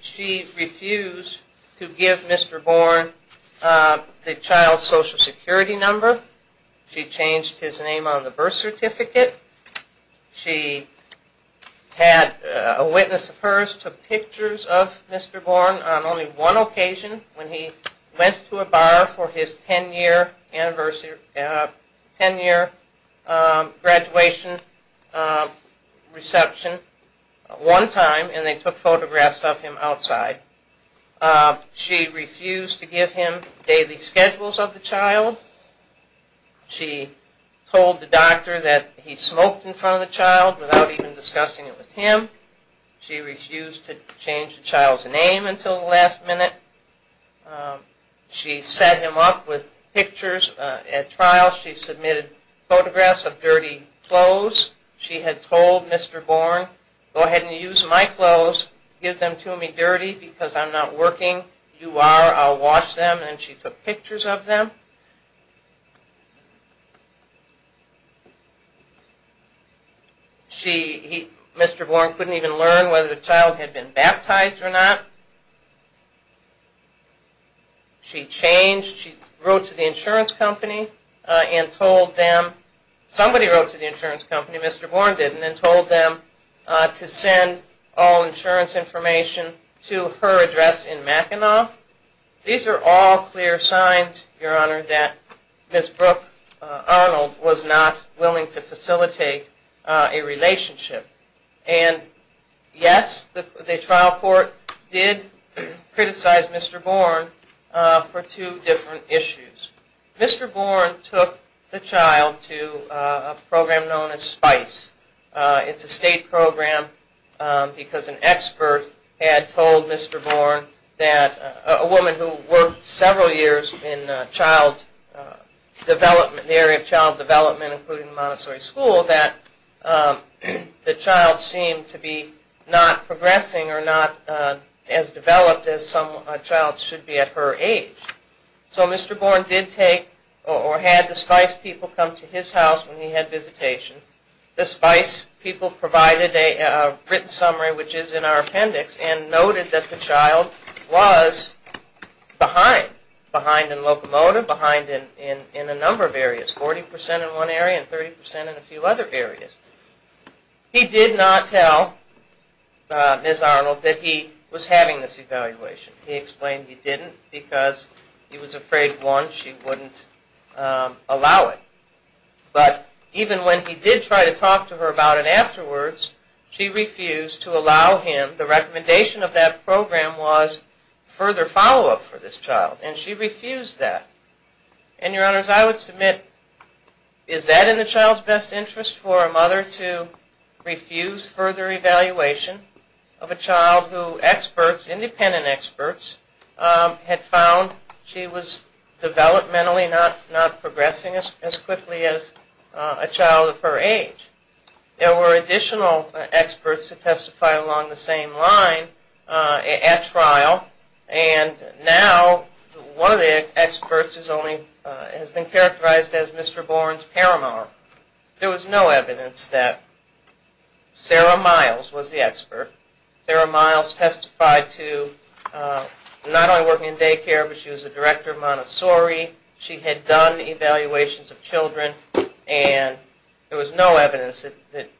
She refused to give Mr. Bourne the child's Social Security number. She changed his name on the birth certificate. She had a witness of hers took pictures of Mr. Bourne on only one occasion when he went to a bar for his 10-year graduation reception one time and they took photographs of him outside. She refused to give him daily schedules of the child. She told the doctor that he smoked in front of the child without even discussing it with him. She refused to change the child's name until the last minute. She set him up with pictures at trial. She submitted photographs of dirty clothes. She had told Mr. Bourne, go ahead and use my clothes. Give them to me dirty because I'm not working. You are. I'll wash them. And she took pictures of them. Mr. Bourne couldn't even learn whether the child had been baptized or not. She changed. She wrote to the insurance company and told them. Somebody wrote to the insurance company. Mr. Bourne didn't and told them to send all insurance information to her address in Mackinac. These are all clear signs, Your Honor, that Ms. Brooke Arnold was not willing to facilitate a relationship. And yes, the trial court did criticize Mr. Bourne for two different issues. Mr. Bourne took the child to a program known as SPICE. It's a state program because an expert had told Mr. Bourne, a woman who worked several years in the area of child development including Montessori School, that the child seemed to be not progressing or not as developed as some child should be at her age. So Mr. Bourne did take or had the SPICE people come to his house when he had visitation. The SPICE people provided a written summary, which is in our appendix, and noted that the child was behind. Behind in locomotive, behind in a number of areas. 40% in one area and 30% in a few other areas. He did not tell Ms. Arnold that he was having this evaluation. He explained he didn't because he was afraid, one, she wouldn't allow it. But even when he did try to talk to her about it afterwards, she refused to allow him. The recommendation of that program was further follow-up for this child. And she refused that. And, Your Honors, I would submit, is that in the child's best interest, for a mother to refuse further evaluation of a child who experts, independent experts, had found she was developmentally not progressing as quickly as a child of her age. There were additional experts to testify along the same line at trial, and now one of the experts has been characterized as Mr. Bourne's paramount. There was no evidence that Sarah Miles was the expert. Sarah Miles testified to not only working in daycare, but she was the director of Montessori. She had done evaluations of children, and there was no evidence that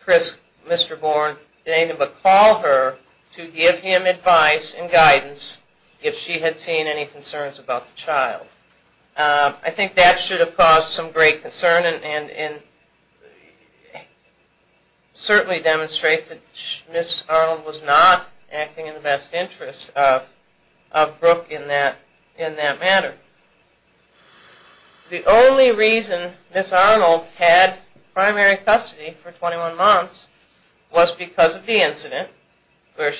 Chris, Mr. Bourne, did anything but call her to give him advice and guidance if she had seen any concerns about the child. I think that should have caused some great concern and certainly demonstrates that Ms. Arnold was not acting in the best interest of Brooke in that matter. The only reason Ms. Arnold had primary custody for 21 months was because of the incident where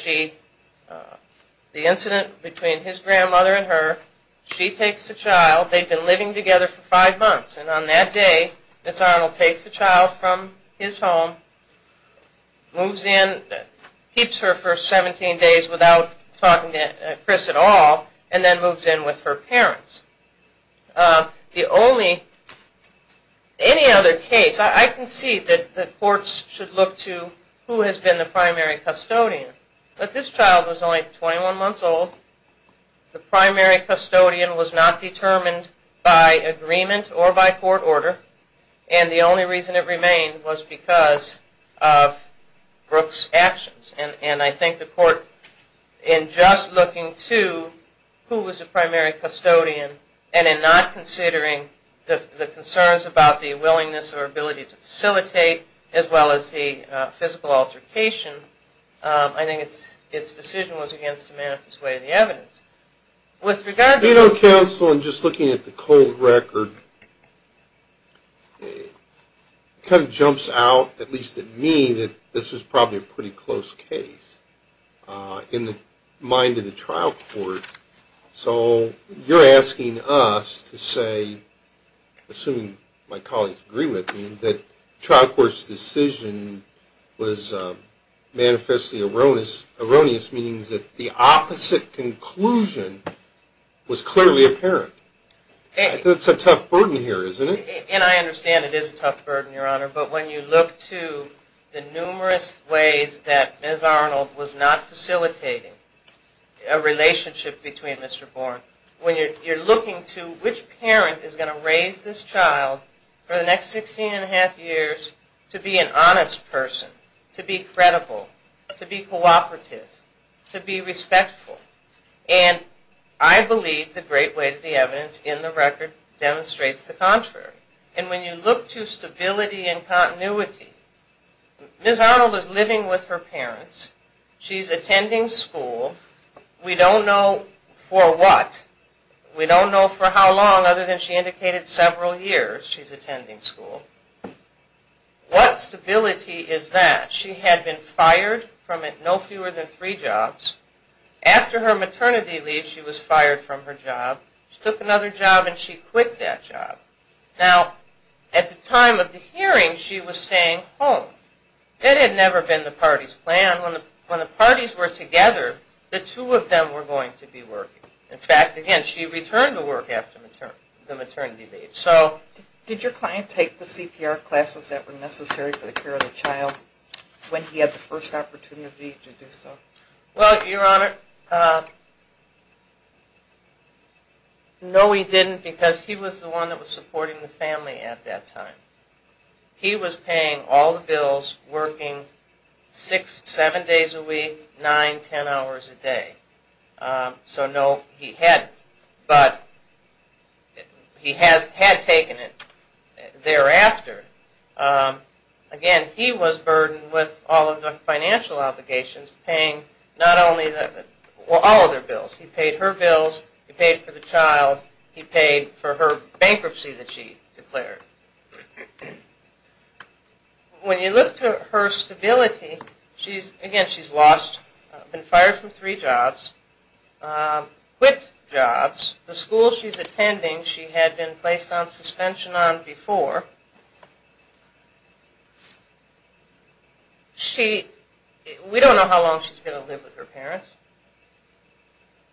the incident between his grandmother and her, she takes the child, they've been living together for five months, and on that day, Ms. Arnold takes the child from his home, moves in, keeps her for 17 days without talking to Chris at all, and then moves in with her parents. The only, any other case, I can see that courts should look to who has been the primary custodian, but this child was only 21 months old. The primary custodian was not determined by agreement or by court order, and the only reason it remained was because of Brooke's actions, and I think the court, in just looking to who was the primary custodian, and in not considering the concerns about the willingness or ability to facilitate, as well as the physical altercation, I think its decision was against the manifest way of the evidence. With regard to... You know, counsel, in just looking at the cold record, it kind of jumps out, at least at me, that this was probably a pretty close case. In the mind of the trial court, so you're asking us to say, assuming my colleagues agree with me, that trial court's decision was manifestly erroneous, erroneous meaning that the opposite conclusion was clearly apparent. That's a tough burden here, isn't it? And I understand it is a tough burden, Your Honor, but when you look to the numerous ways that Ms. Arnold was not facilitating a relationship between Mr. Bourne, when you're looking to which parent is going to raise this child for the next 16 and a half years to be an honest person, to be credible, to be cooperative, to be respectful, and I believe the great weight of the evidence in the record demonstrates the contrary. And when you look to stability and continuity, Ms. Arnold is living with her parents. She's attending school. We don't know for what. We don't know for how long, other than she indicated several years she's attending school. What stability is that? She had been fired from no fewer than three jobs. After her maternity leave, she was fired from her job. She took another job, and she quit that job. Now, at the time of the hearing, she was staying home. That had never been the party's plan. When the parties were together, the two of them were going to be working. In fact, again, she returned to work after the maternity leave. So did your client take the CPR classes that were necessary for the care of the child when he had the first opportunity to do so? Well, Your Honor, no, he didn't, because he was the one that was supporting the family at that time. He was paying all the bills, working six, seven days a week, nine, ten hours a day. So no, he hadn't. But he had taken it thereafter. Again, he was burdened with all of the financial obligations, paying all of their bills. He paid her bills. He paid for the child. He paid for her bankruptcy that she declared. When you look to her stability, again, she's been fired from three jobs, quit jobs. The school she's attending, she had been placed on suspension on before. We don't know how long she's going to live with her parents.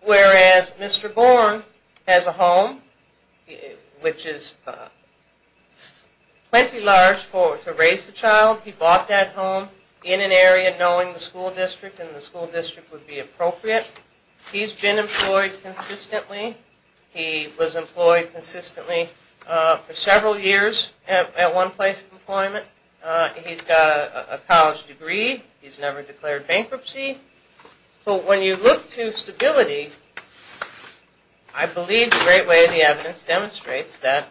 Whereas Mr. Born has a home, which is plenty large to raise the child. He bought that home in an area knowing the school district and the school district would be appropriate. He's been employed consistently. He was employed consistently for several years at one place of employment. He's got a college degree. He's never declared bankruptcy. But when you look to stability, I believe the great way the evidence demonstrates that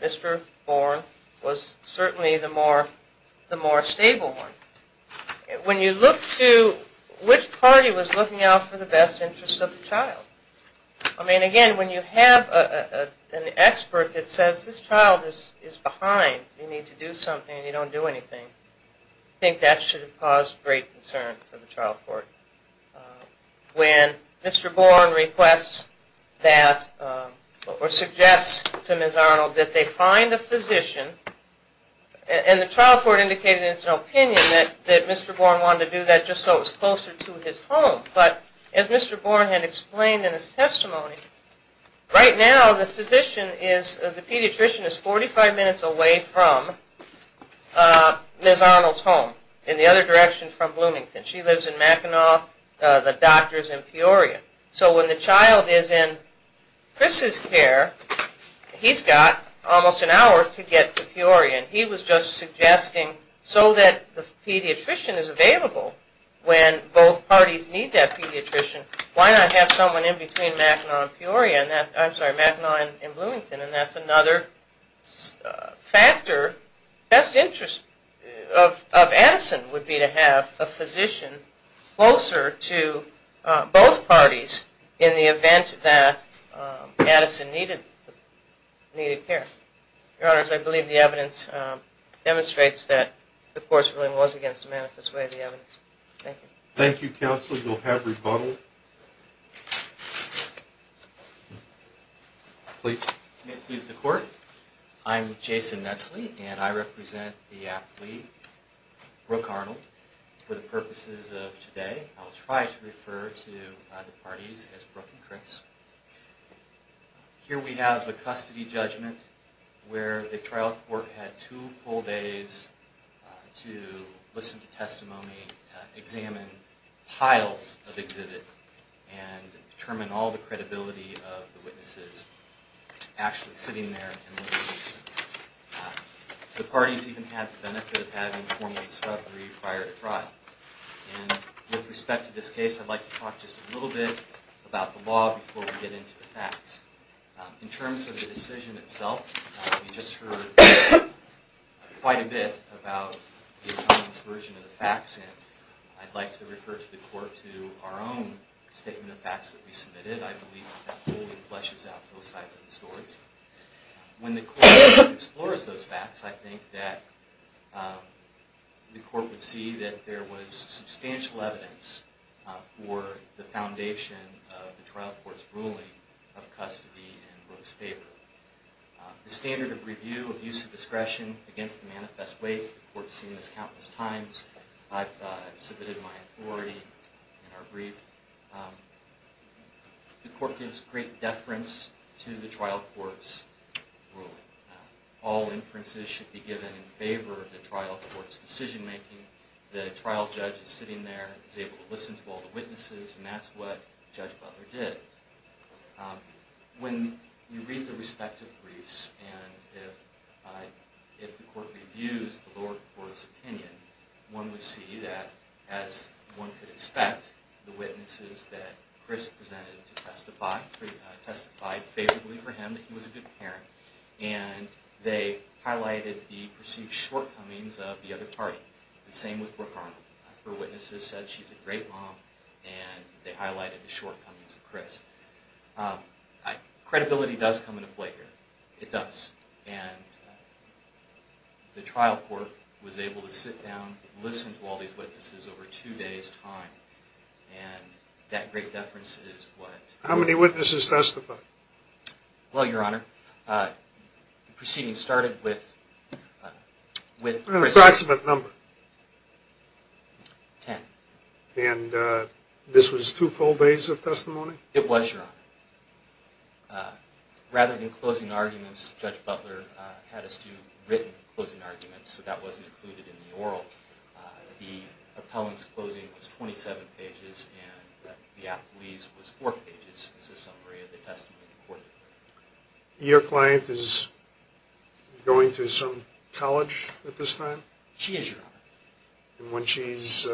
Mr. Born was certainly the more stable one. When you look to which party was looking out for the best interest of the child, I mean, again, when you have an expert that says this child is behind, you need to do something and you don't do anything, I think that should have caused great concern for the trial court. When Mr. Born requests that or suggests to Ms. Arnold that they find a physician, and the trial court indicated in its opinion that Mr. Born wanted to do that just so it was closer to his home. But as Mr. Born had explained in his testimony, right now the physician is, the pediatrician is 45 minutes away from Ms. Arnold's home in the other direction from Bloomington. She lives in Mackinac, the doctor is in Peoria. So when the child is in Chris's care, he's got almost an hour to get to Peoria. He was just suggesting so that the pediatrician is available when both parties need that pediatrician, why not have someone in between Mackinac and Bloomington, and that's another factor. Best interest of Addison would be to have a physician closer to both parties in the event that Addison needed care. Your Honors, I believe the evidence demonstrates that the court's ruling was against the manifest way of the evidence. Thank you. Thank you, Counsel. You'll have rebuttal. Please. May it please the Court. I'm Jason Netsley, and I represent the aptly Brooke Arnold. For the purposes of today, I'll try to refer to either parties as Brooke and Chris. Here we have the custody judgment where the trial court had two full days to listen to testimony, examine piles of exhibits, and determine all the credibility of the witnesses actually sitting there and listening to them. The parties even had the benefit of having formal discovery prior to trial. With respect to this case, I'd like to talk just a little bit about the law before we get into the facts. In terms of the decision itself, we just heard quite a bit about the attorney's version of the facts, and I'd like to refer the Court to our own statement of facts that we submitted. I believe that fully fleshes out both sides of the story. When the Court explores those facts, I think that the Court would see that there was substantial evidence for the foundation of the trial court's ruling of custody in Brooke's paper. The standard of review of use of discretion against the manifest way, the Court's seen this countless times. I've submitted my authority in our brief. The Court gives great deference to the trial court's ruling. All inferences should be given in favor of the trial court's decision making. The trial judge is sitting there, is able to listen to all the witnesses, and that's what Judge Butler did. When you read the respective briefs, and if the Court reviews the lower court's opinion, one would see that, as one could expect, the witnesses that Chris presented to testify testified favorably for him, that he was a good parent, and they highlighted the perceived shortcomings of the other party. The same with Brooke Arnold. Her witnesses said she's a great mom, and they highlighted the shortcomings of Chris. Credibility does come into play here. It does. And the trial court was able to sit down, listen to all these witnesses over two days' time, and that great deference is what... How many witnesses testified? Well, Your Honor, the proceedings started with... An approximate number. Ten. And this was two full days of testimony? It was, Your Honor. Rather than closing arguments, Judge Butler had us do written closing arguments, so that wasn't included in the oral. The appellant's closing was 27 pages, and the appellee's was four pages. This is a summary of the testimony the Court recorded. Your client is going to some college at this time? She is, Your Honor. And when she's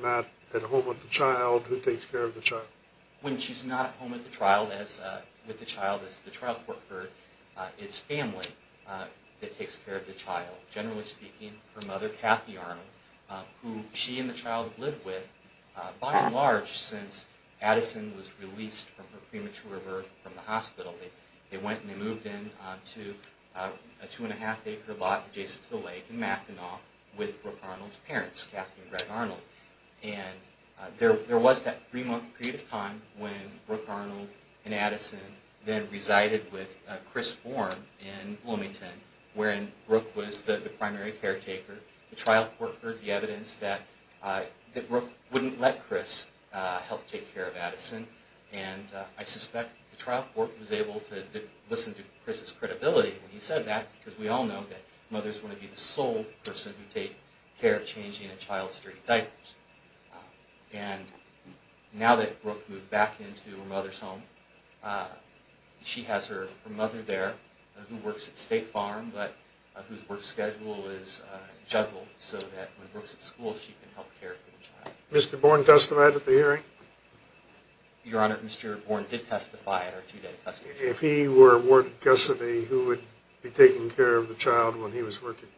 not at home with the child, who takes care of the child? When she's not at home with the child, as the trial court heard, it's family that takes care of the child. Generally speaking, her mother, Kathy Arnold, who she and the child have lived with by and large since Addison was released from her premature birth from the hospital. They went and they moved in to a two-and-a-half-acre lot adjacent to the lake in Mackinac with Brooke Arnold's parents, Kathy and Greg Arnold. And there was that three-month period of time when Brooke Arnold and Addison then resided with Chris Bourne in Bloomington, wherein Brooke was the primary caretaker. The trial court heard the evidence that Brooke wouldn't let Chris help take care of Addison. And I suspect the trial court was able to listen to Chris's credibility when he said that, because we all know that mothers want to be the sole person who takes care of changing a child's dirty diapers. And now that Brooke moved back into her mother's home, she has her mother there who works at State Farm, but whose work schedule is juggled so that when Brooke's at school, she can help care for the child. Mr. Bourne testified at the hearing? Your Honor, Mr. Bourne did testify at our two-day testimony. If he were awarded custody, who would be taking care of the child when he was working?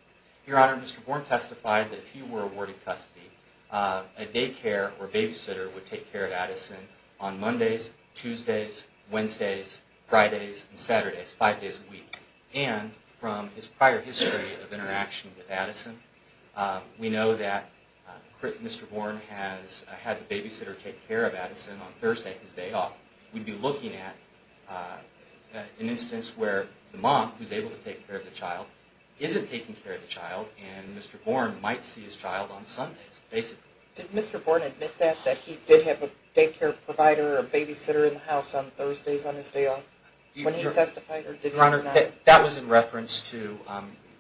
Your Honor, Mr. Bourne testified that if he were awarded custody, a daycare or babysitter would take care of Addison on Mondays, Tuesdays, Wednesdays, Fridays, and Saturdays, five days a week. And from his prior history of interaction with Addison, we know that Mr. Bourne had the babysitter take care of Addison on Thursday, his day off. We'd be looking at an instance where the mom, who's able to take care of the child, isn't taking care of the child, and Mr. Bourne might see his child on Sundays, basically. Did Mr. Bourne admit that, that he did have a daycare provider or a babysitter in the house on Thursdays on his day off? When he testified, or did he or not? Your Honor, that was in reference to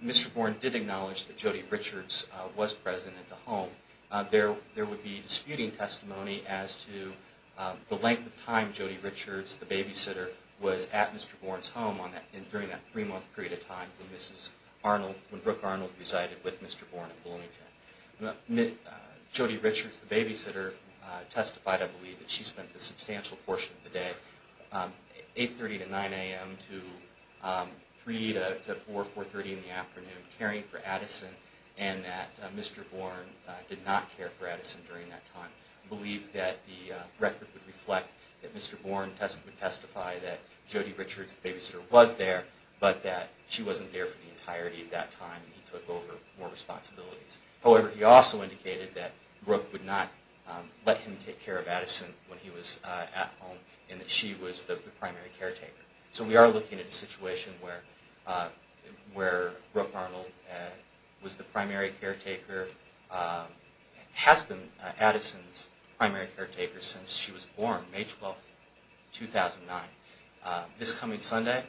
Mr. Bourne did acknowledge that Jody Richards was present at the home. There would be disputing testimony as to the length of time Jody Richards, the babysitter, was at Mr. Bourne's home during that three-month period of time when Mrs. Arnold, when Brooke Arnold resided with Mr. Bourne in Bloomington. Jody Richards, the babysitter, testified, I believe, that she spent a substantial portion of the day, 8.30 to 9 a.m. to 3 to 4, 4.30 in the afternoon, caring for Addison and that Mr. Bourne did not care for Addison during that time. I believe that the record would reflect that Mr. Bourne would testify that Jody Richards, the babysitter, was there, but that she wasn't there for the entirety of that time. He took over more responsibilities. However, he also indicated that Brooke would not let him take care of Addison when he was at home and that she was the primary caretaker. So we are looking at a situation where Brooke Arnold was the primary caretaker, has been Addison's primary caretaker since she was born, May 12, 2009. This coming Sunday,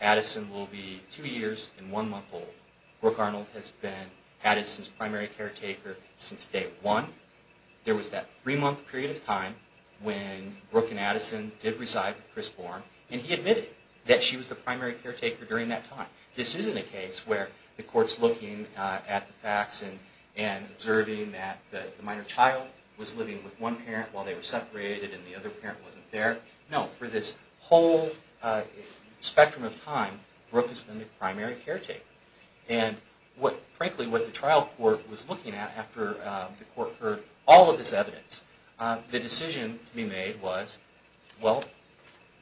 Addison will be two years and one month old. Brooke Arnold has been Addison's primary caretaker since day one. There was that three-month period of time when Brooke and Addison did reside with Chris Bourne and he admitted that she was the primary caretaker during that time. This isn't a case where the court's looking at the facts and observing that the minor child was living with one parent while they were separated and the other parent wasn't there. No, for this whole spectrum of time, Brooke has been the primary caretaker. And frankly, what the trial court was looking at after the court heard all of this evidence, the decision to be made was, well,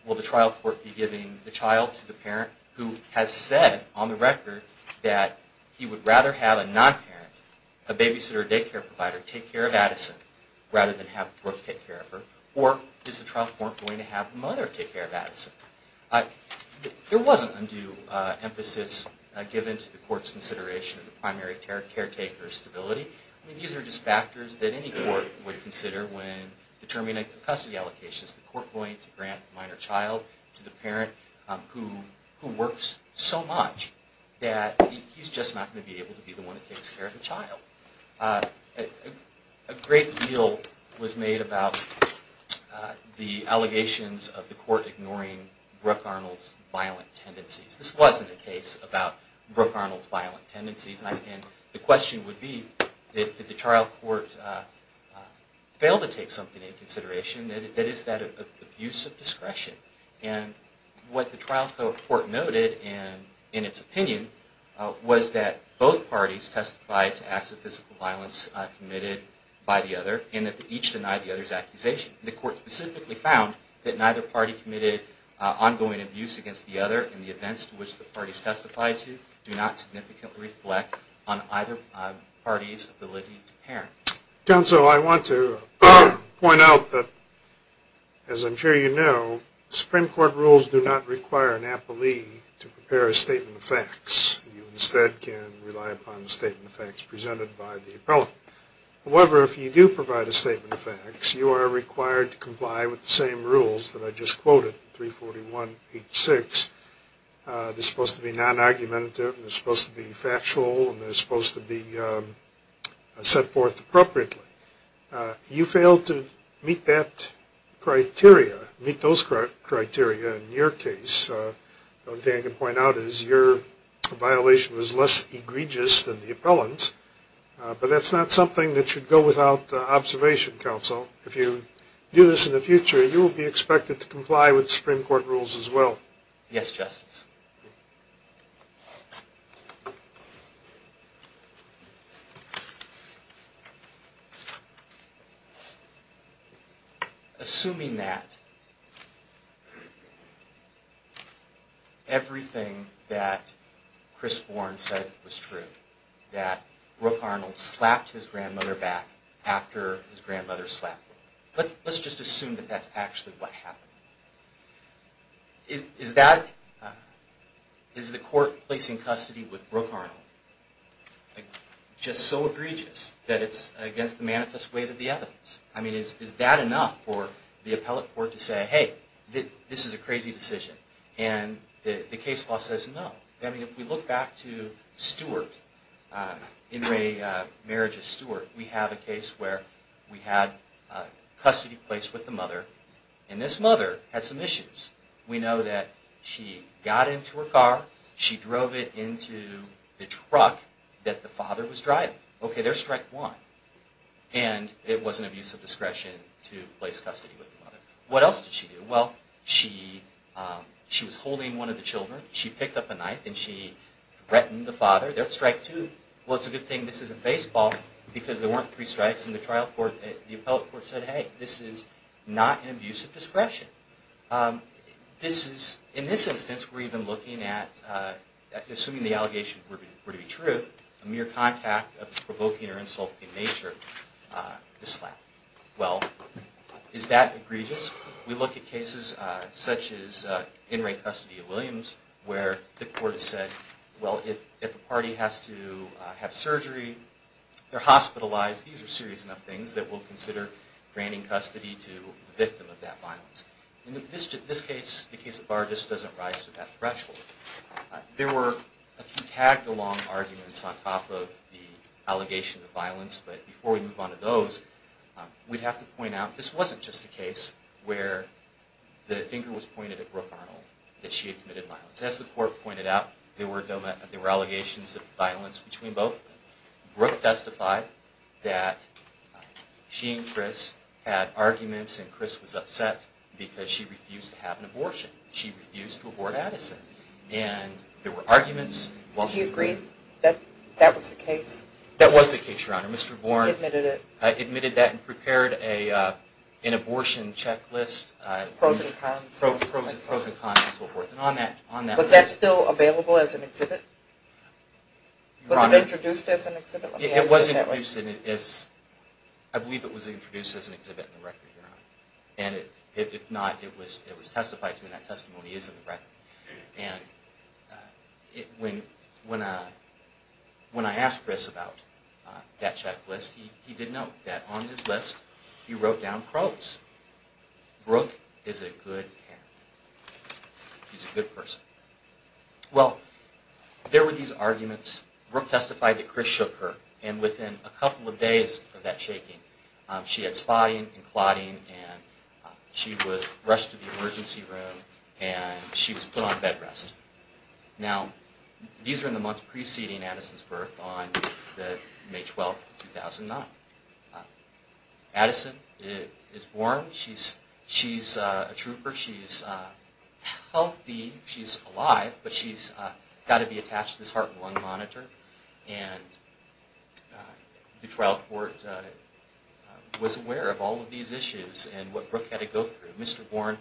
will the trial court be giving the child to the parent who has said on the record that he would rather have a non-parent, a babysitter or daycare provider, take care of Addison rather than have Brooke take care of her, or is the trial court going to have the mother take care of Addison? There wasn't undue emphasis given to the court's consideration of the primary caretaker's stability. These are just factors that any court would consider when determining custody allocations. Is the court going to grant a minor child to the parent who works so much that he's just not going to be able to be the one that takes care of the child? A great deal was made about the allegations of the court ignoring Brooke Arnold's violent tendencies. This wasn't a case about Brooke Arnold's violent tendencies. And the question would be, did the trial court fail to take something into consideration? That is, that abuse of discretion. And what the trial court noted in its opinion was that both parties testified to acts of physical violence committed by the other and that they each denied the other's accusation. The court specifically found that neither party committed ongoing abuse against the other and the events to which the parties testified to do not significantly reflect on either party's ability to parent. Counsel, I want to point out that, as I'm sure you know, Supreme Court rules do not require an appellee to prepare a statement of facts. You instead can rely upon the statement of facts presented by the appellant. However, if you do provide a statement of facts, you are required to comply with the same rules that I just quoted, 341.86. They're supposed to be non-argumentative and they're supposed to be factual and they're supposed to be set forth appropriately. You failed to meet that criteria, meet those criteria in your case. The only thing I can point out is your violation was less egregious than the appellant's, but that's not something that should go without observation, Counsel. If you do this in the future, you will be expected to comply with Supreme Court rules as well. Yes, Justice. Assuming that everything that Chris Bourne said was true, that Brooke Arnold slapped his grandmother back after his grandmother slapped Brooke, let's just assume that that's actually what happened. Is the court placing custody with Brooke Arnold just so egregious that it's against the manifest weight of the evidence? I mean, is that enough for the appellate court to say, hey, this is a crazy decision, and the case law says no? I mean, if we look back to Stewart, in the marriage of Stewart, we have a case where we had custody placed with the mother, and this mother had some issues. We know that she got into her car, she drove it into the truck that the father was driving. Okay, there's strike one. And it was an abuse of discretion to place custody with the mother. What else did she do? Well, she was holding one of the children. She picked up a knife and she threatened the father. There's strike two. Well, it's a good thing this isn't baseball because there weren't three strikes in the trial court. The appellate court said, hey, this is not an abuse of discretion. In this instance, we're even looking at, assuming the allegations were to be true, a mere contact of provoking or insulting nature to slap. Well, is that egregious? We look at cases such as in-rate custody of Williams where the court has said, well, if a party has to have surgery, they're hospitalized, these are serious enough things that we'll consider granting custody to the victim of that violence. In this case, the case of Vargas doesn't rise to that threshold. There were a few tag-along arguments on top of the allegation of violence, but before we move on to those, we'd have to point out this wasn't just a case where the finger was pointed at Brooke Arnold, that she had committed violence. As the court pointed out, there were allegations of violence between both. Brooke testified that she and Chris had arguments and Chris was upset because she refused to have an abortion. She refused to abort Addison. Do you agree that that was the case? That was the case, Your Honor. Mr. Bourne admitted that and prepared an abortion checklist, pros and cons and so forth. Was that still available as an exhibit? Was it introduced as an exhibit? It was introduced. I believe it was introduced as an exhibit in the record, Your Honor. If not, it was testified to and that testimony is in the record. And when I asked Chris about that checklist, he did note that on his list he wrote down pros. Brooke is a good parent. She's a good person. Well, there were these arguments. Brooke testified that Chris shook her and within a couple of days of that shaking, she had spotting and clotting and she was rushed to the emergency room and she was put on bed rest. Now, these are in the months preceding Addison's birth on May 12, 2009. Addison is born. She's a trooper. She's healthy. She's alive, but she's got to be attached to this heart and lung monitor. And the trial court was aware of all of these issues and what Brooke had to go through. Mr. Bourne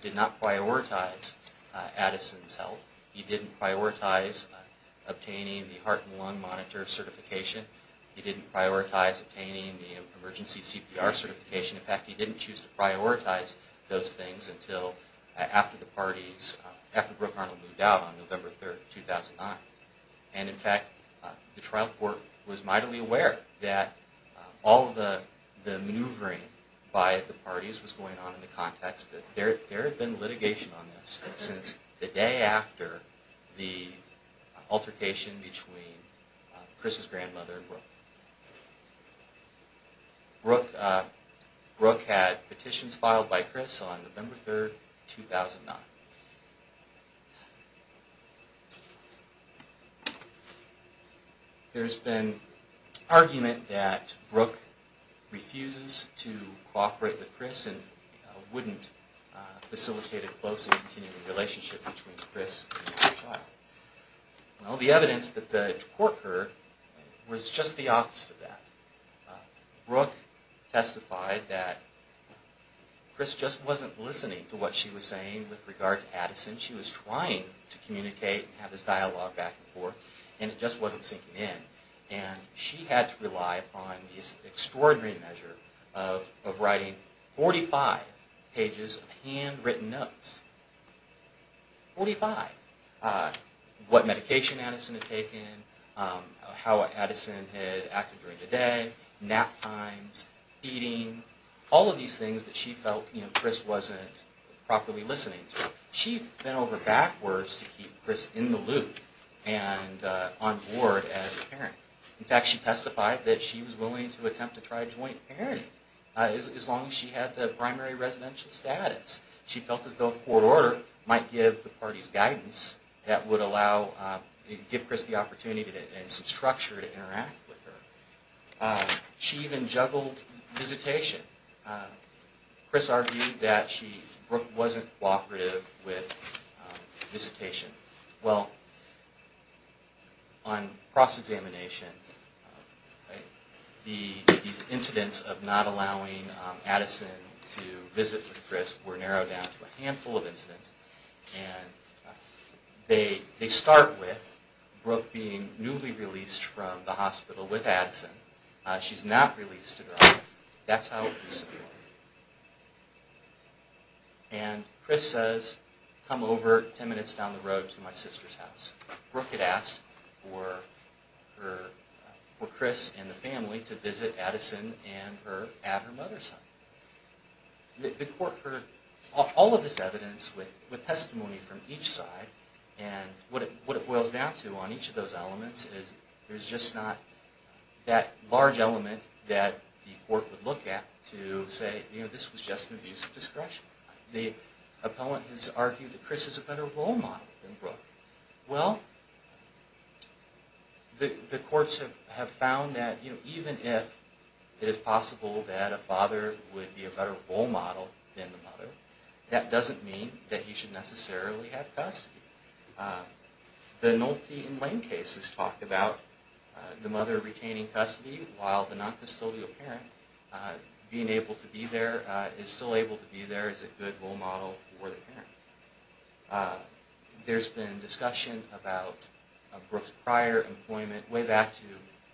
did not prioritize Addison's health. He didn't prioritize obtaining the heart and lung monitor certification. He didn't prioritize obtaining the emergency CPR certification. In fact, he didn't choose to prioritize those things until after the parties, after Brooke Arnold moved out on November 3, 2009. And, in fact, the trial court was mightily aware that all of the maneuvering by the parties was going on in the context that there had been litigation on this since the day after the altercation between Chris's grandmother and Brooke. Brooke had petitions filed by Chris on November 3, 2009. There's been argument that Brooke refuses to cooperate with Chris and wouldn't facilitate a close and continuing relationship between Chris and the child. Well, the evidence that the court heard was just the opposite of that. Brooke testified that Chris just wasn't listening to what she was saying with regard to Addison. She was trying to communicate and have this dialogue back and forth, and it just wasn't sinking in. And she had to rely upon this extraordinary measure of writing 45 pages of handwritten notes. Forty-five. What medication Addison had taken, how Addison had acted during the day, nap times, eating, all of these things that she felt Chris wasn't properly listening to. She bent over backwards to keep Chris in the loop and on board as a parent. In fact, she testified that she was willing to attempt to try a joint parenting as long as she had the primary residential status. She felt as though the court order might give the parties guidance that would give Chris the opportunity and some structure to interact with her. She even juggled visitation. Chris argued that Brooke wasn't cooperative with visitation. Well, on cross-examination, these incidents of not allowing Addison to visit with Chris were narrowed down to a handful of incidents. And they start with Brooke being newly released from the hospital with Addison. She's not released to drive. That's how it proceeded. And Chris says, come over ten minutes down the road to my sister's house. Brooke had asked for Chris and the family to visit Addison and her mother's home. The court heard all of this evidence with testimony from each side. And what it boils down to on each of those elements is there's just not that large element that the court would look at to say, you know, this was just an abuse of discretion. The appellant has argued that Chris is a better role model than Brooke. Well, the courts have found that, you know, even if it is possible that a father would be a better role model than the mother, that doesn't mean that he should necessarily have custody. The Nolte and Lane cases talk about the mother retaining custody while the noncustodial parent being able to be there, is still able to be there as a good role model for the parent. There's been discussion about Brooke's prior employment way back to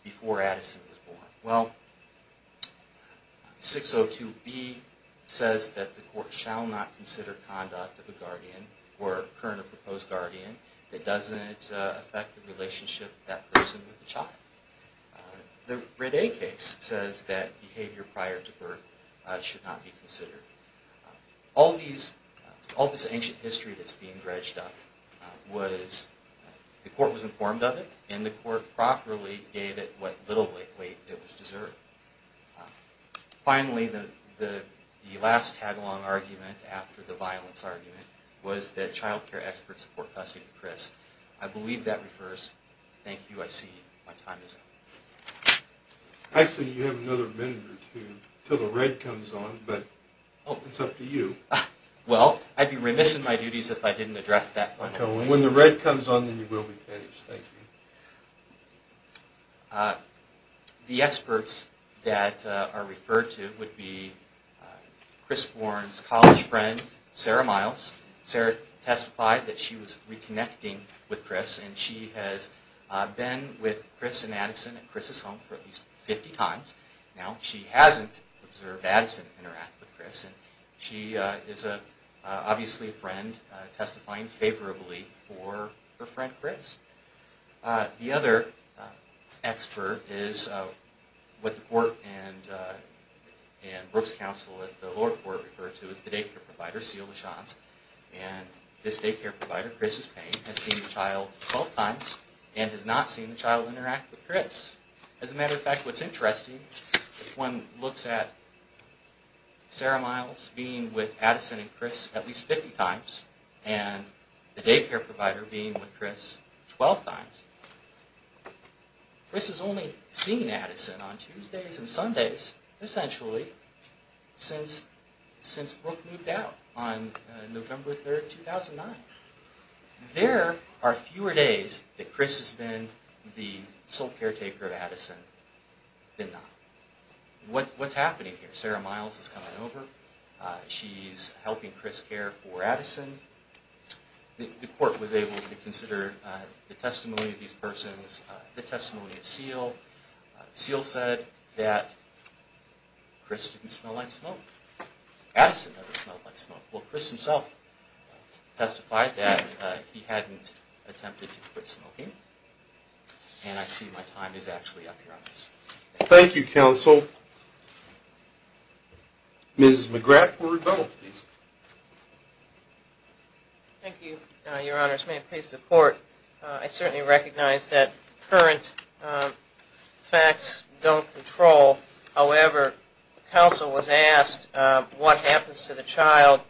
before Addison was born. Well, 602B says that the court shall not consider conduct of a guardian or current or proposed guardian that doesn't affect the relationship of that person with the child. The Ridday case says that behavior prior to birth should not be considered. All these, all this ancient history that's being dredged up was, the court was informed of it and the court properly gave it what little weight it was deserving. Finally, the last tag-along argument after the violence argument I believe that refers, thank you, I see you, my time is up. Actually, you have another minute or two until the red comes on, but it's up to you. Well, I'd be remiss in my duties if I didn't address that point. Okay, when the red comes on then you will be finished, thank you. The experts that are referred to would be Chris Warren's college friend, Sarah Miles. Sarah testified that she was reconnecting with Chris and she has been with Chris and Addison at Chris' home for at least 50 times. Now, she hasn't observed Addison interact with Chris and she is obviously a friend, testifying favorably for her friend Chris. The other expert is what the court and Brooks Counsel at the lower court refer to as the daycare provider, Celia LaChanze. And this daycare provider, Chris' pain, has seen the child 12 times and has not seen the child interact with Chris. As a matter of fact, what's interesting, if one looks at Sarah Miles being with Addison and Chris at least 50 times and the daycare provider being with Chris 12 times, Chris has only seen Addison on Tuesdays and Sundays, essentially, since Brooke moved out on November 3rd, 2009. There are fewer days that Chris has been the sole caretaker of Addison than not. What's happening here? Sarah Miles is coming over, she's helping Chris care for Addison. The court was able to consider the testimony of these persons, the testimony of Seal. Seal said that Chris didn't smell like smoke, Addison never smelled like smoke. Well, Chris himself testified that he hadn't attempted to quit smoking and I see my time is actually up here on this. Thank you, Counsel. Ms. McGrath for rebuttal, please. Thank you, Your Honors. May it please the Court, I certainly recognize that current facts don't control. However, counsel was asked what happens to the child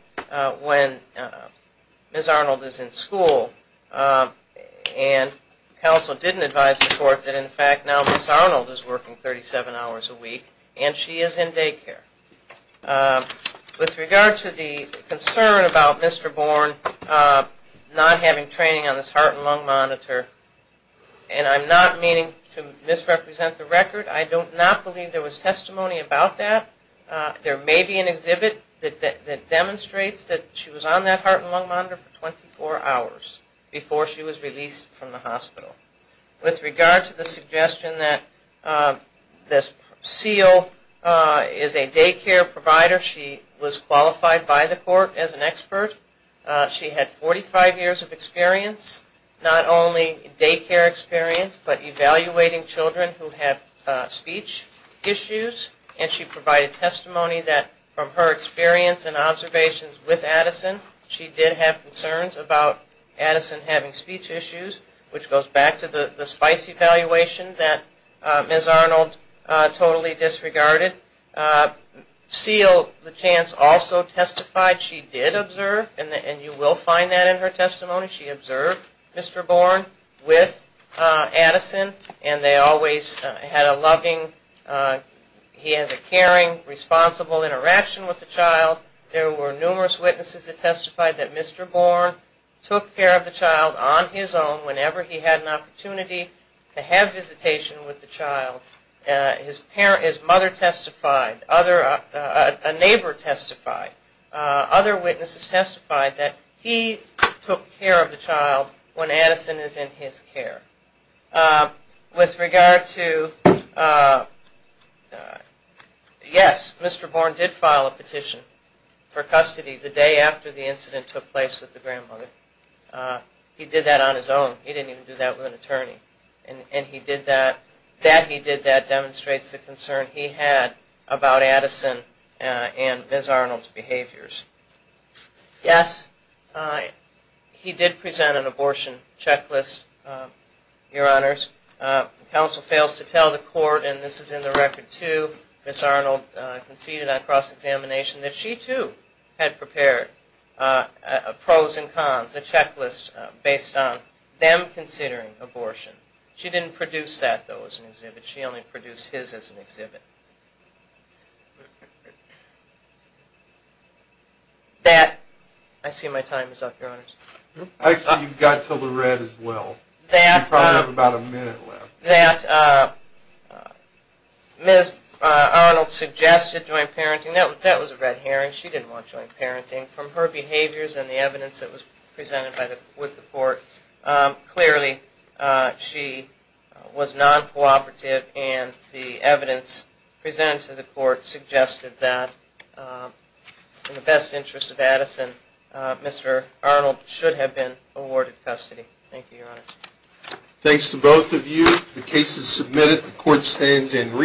when Ms. Arnold is in school and counsel didn't advise the Court that in fact now Ms. Arnold is working 37 hours a week and she is in daycare. With regard to the concern about Mr. Bourne not having training on this heart and lung monitor, and I'm not meaning to misrepresent the record, I do not believe there was testimony about that. There may be an exhibit that demonstrates that she was on that heart and lung monitor for 24 hours before she was released from the hospital. With regard to the suggestion that this Seal is a daycare provider, she was qualified by the Court as an expert. She had 45 years of experience, not only daycare experience, but evaluating children who have speech issues and she provided testimony that from her experience and observations with Addison, she did have concerns about Addison having speech issues, which goes back to the spice evaluation that Ms. Arnold totally disregarded. Seal, the chance, also testified she did observe, and you will find that in her testimony, she observed Mr. Bourne with Addison and they always had a loving, he has a caring, responsible interaction with the child. There were numerous witnesses that testified that Mr. Bourne took care of the child on his own whenever he had an opportunity to have visitation with the child. His mother testified, a neighbor testified, other witnesses testified that he took care of the child when Addison is in his care. With regard to, yes, Mr. Bourne did file a petition for custody the day after the incident took place with the grandmother. He did that on his own. He didn't even do that with an attorney. And that he did that demonstrates the concern he had about Addison and Ms. Arnold's behaviors. Yes, he did present an abortion checklist, your honors. Counsel fails to tell the court, and this is in the record too, Ms. Arnold conceded on cross-examination that she too had prepared pros and cons, a checklist based on them considering abortion. She didn't produce that, though, as an exhibit. She only produced his as an exhibit. I see my time is up, your honors. Actually, you've got until the red as well. You probably have about a minute left. That Ms. Arnold suggested joint parenting. That was a red herring. She didn't want joint parenting. From her behaviors and the evidence that was presented with the court, clearly she was non-cooperative, and the evidence presented to the court suggested that in the best interest of Addison, Mr. Arnold should have been awarded custody. Thank you, your honors. Thanks to both of you. The case is submitted. The court stands in re-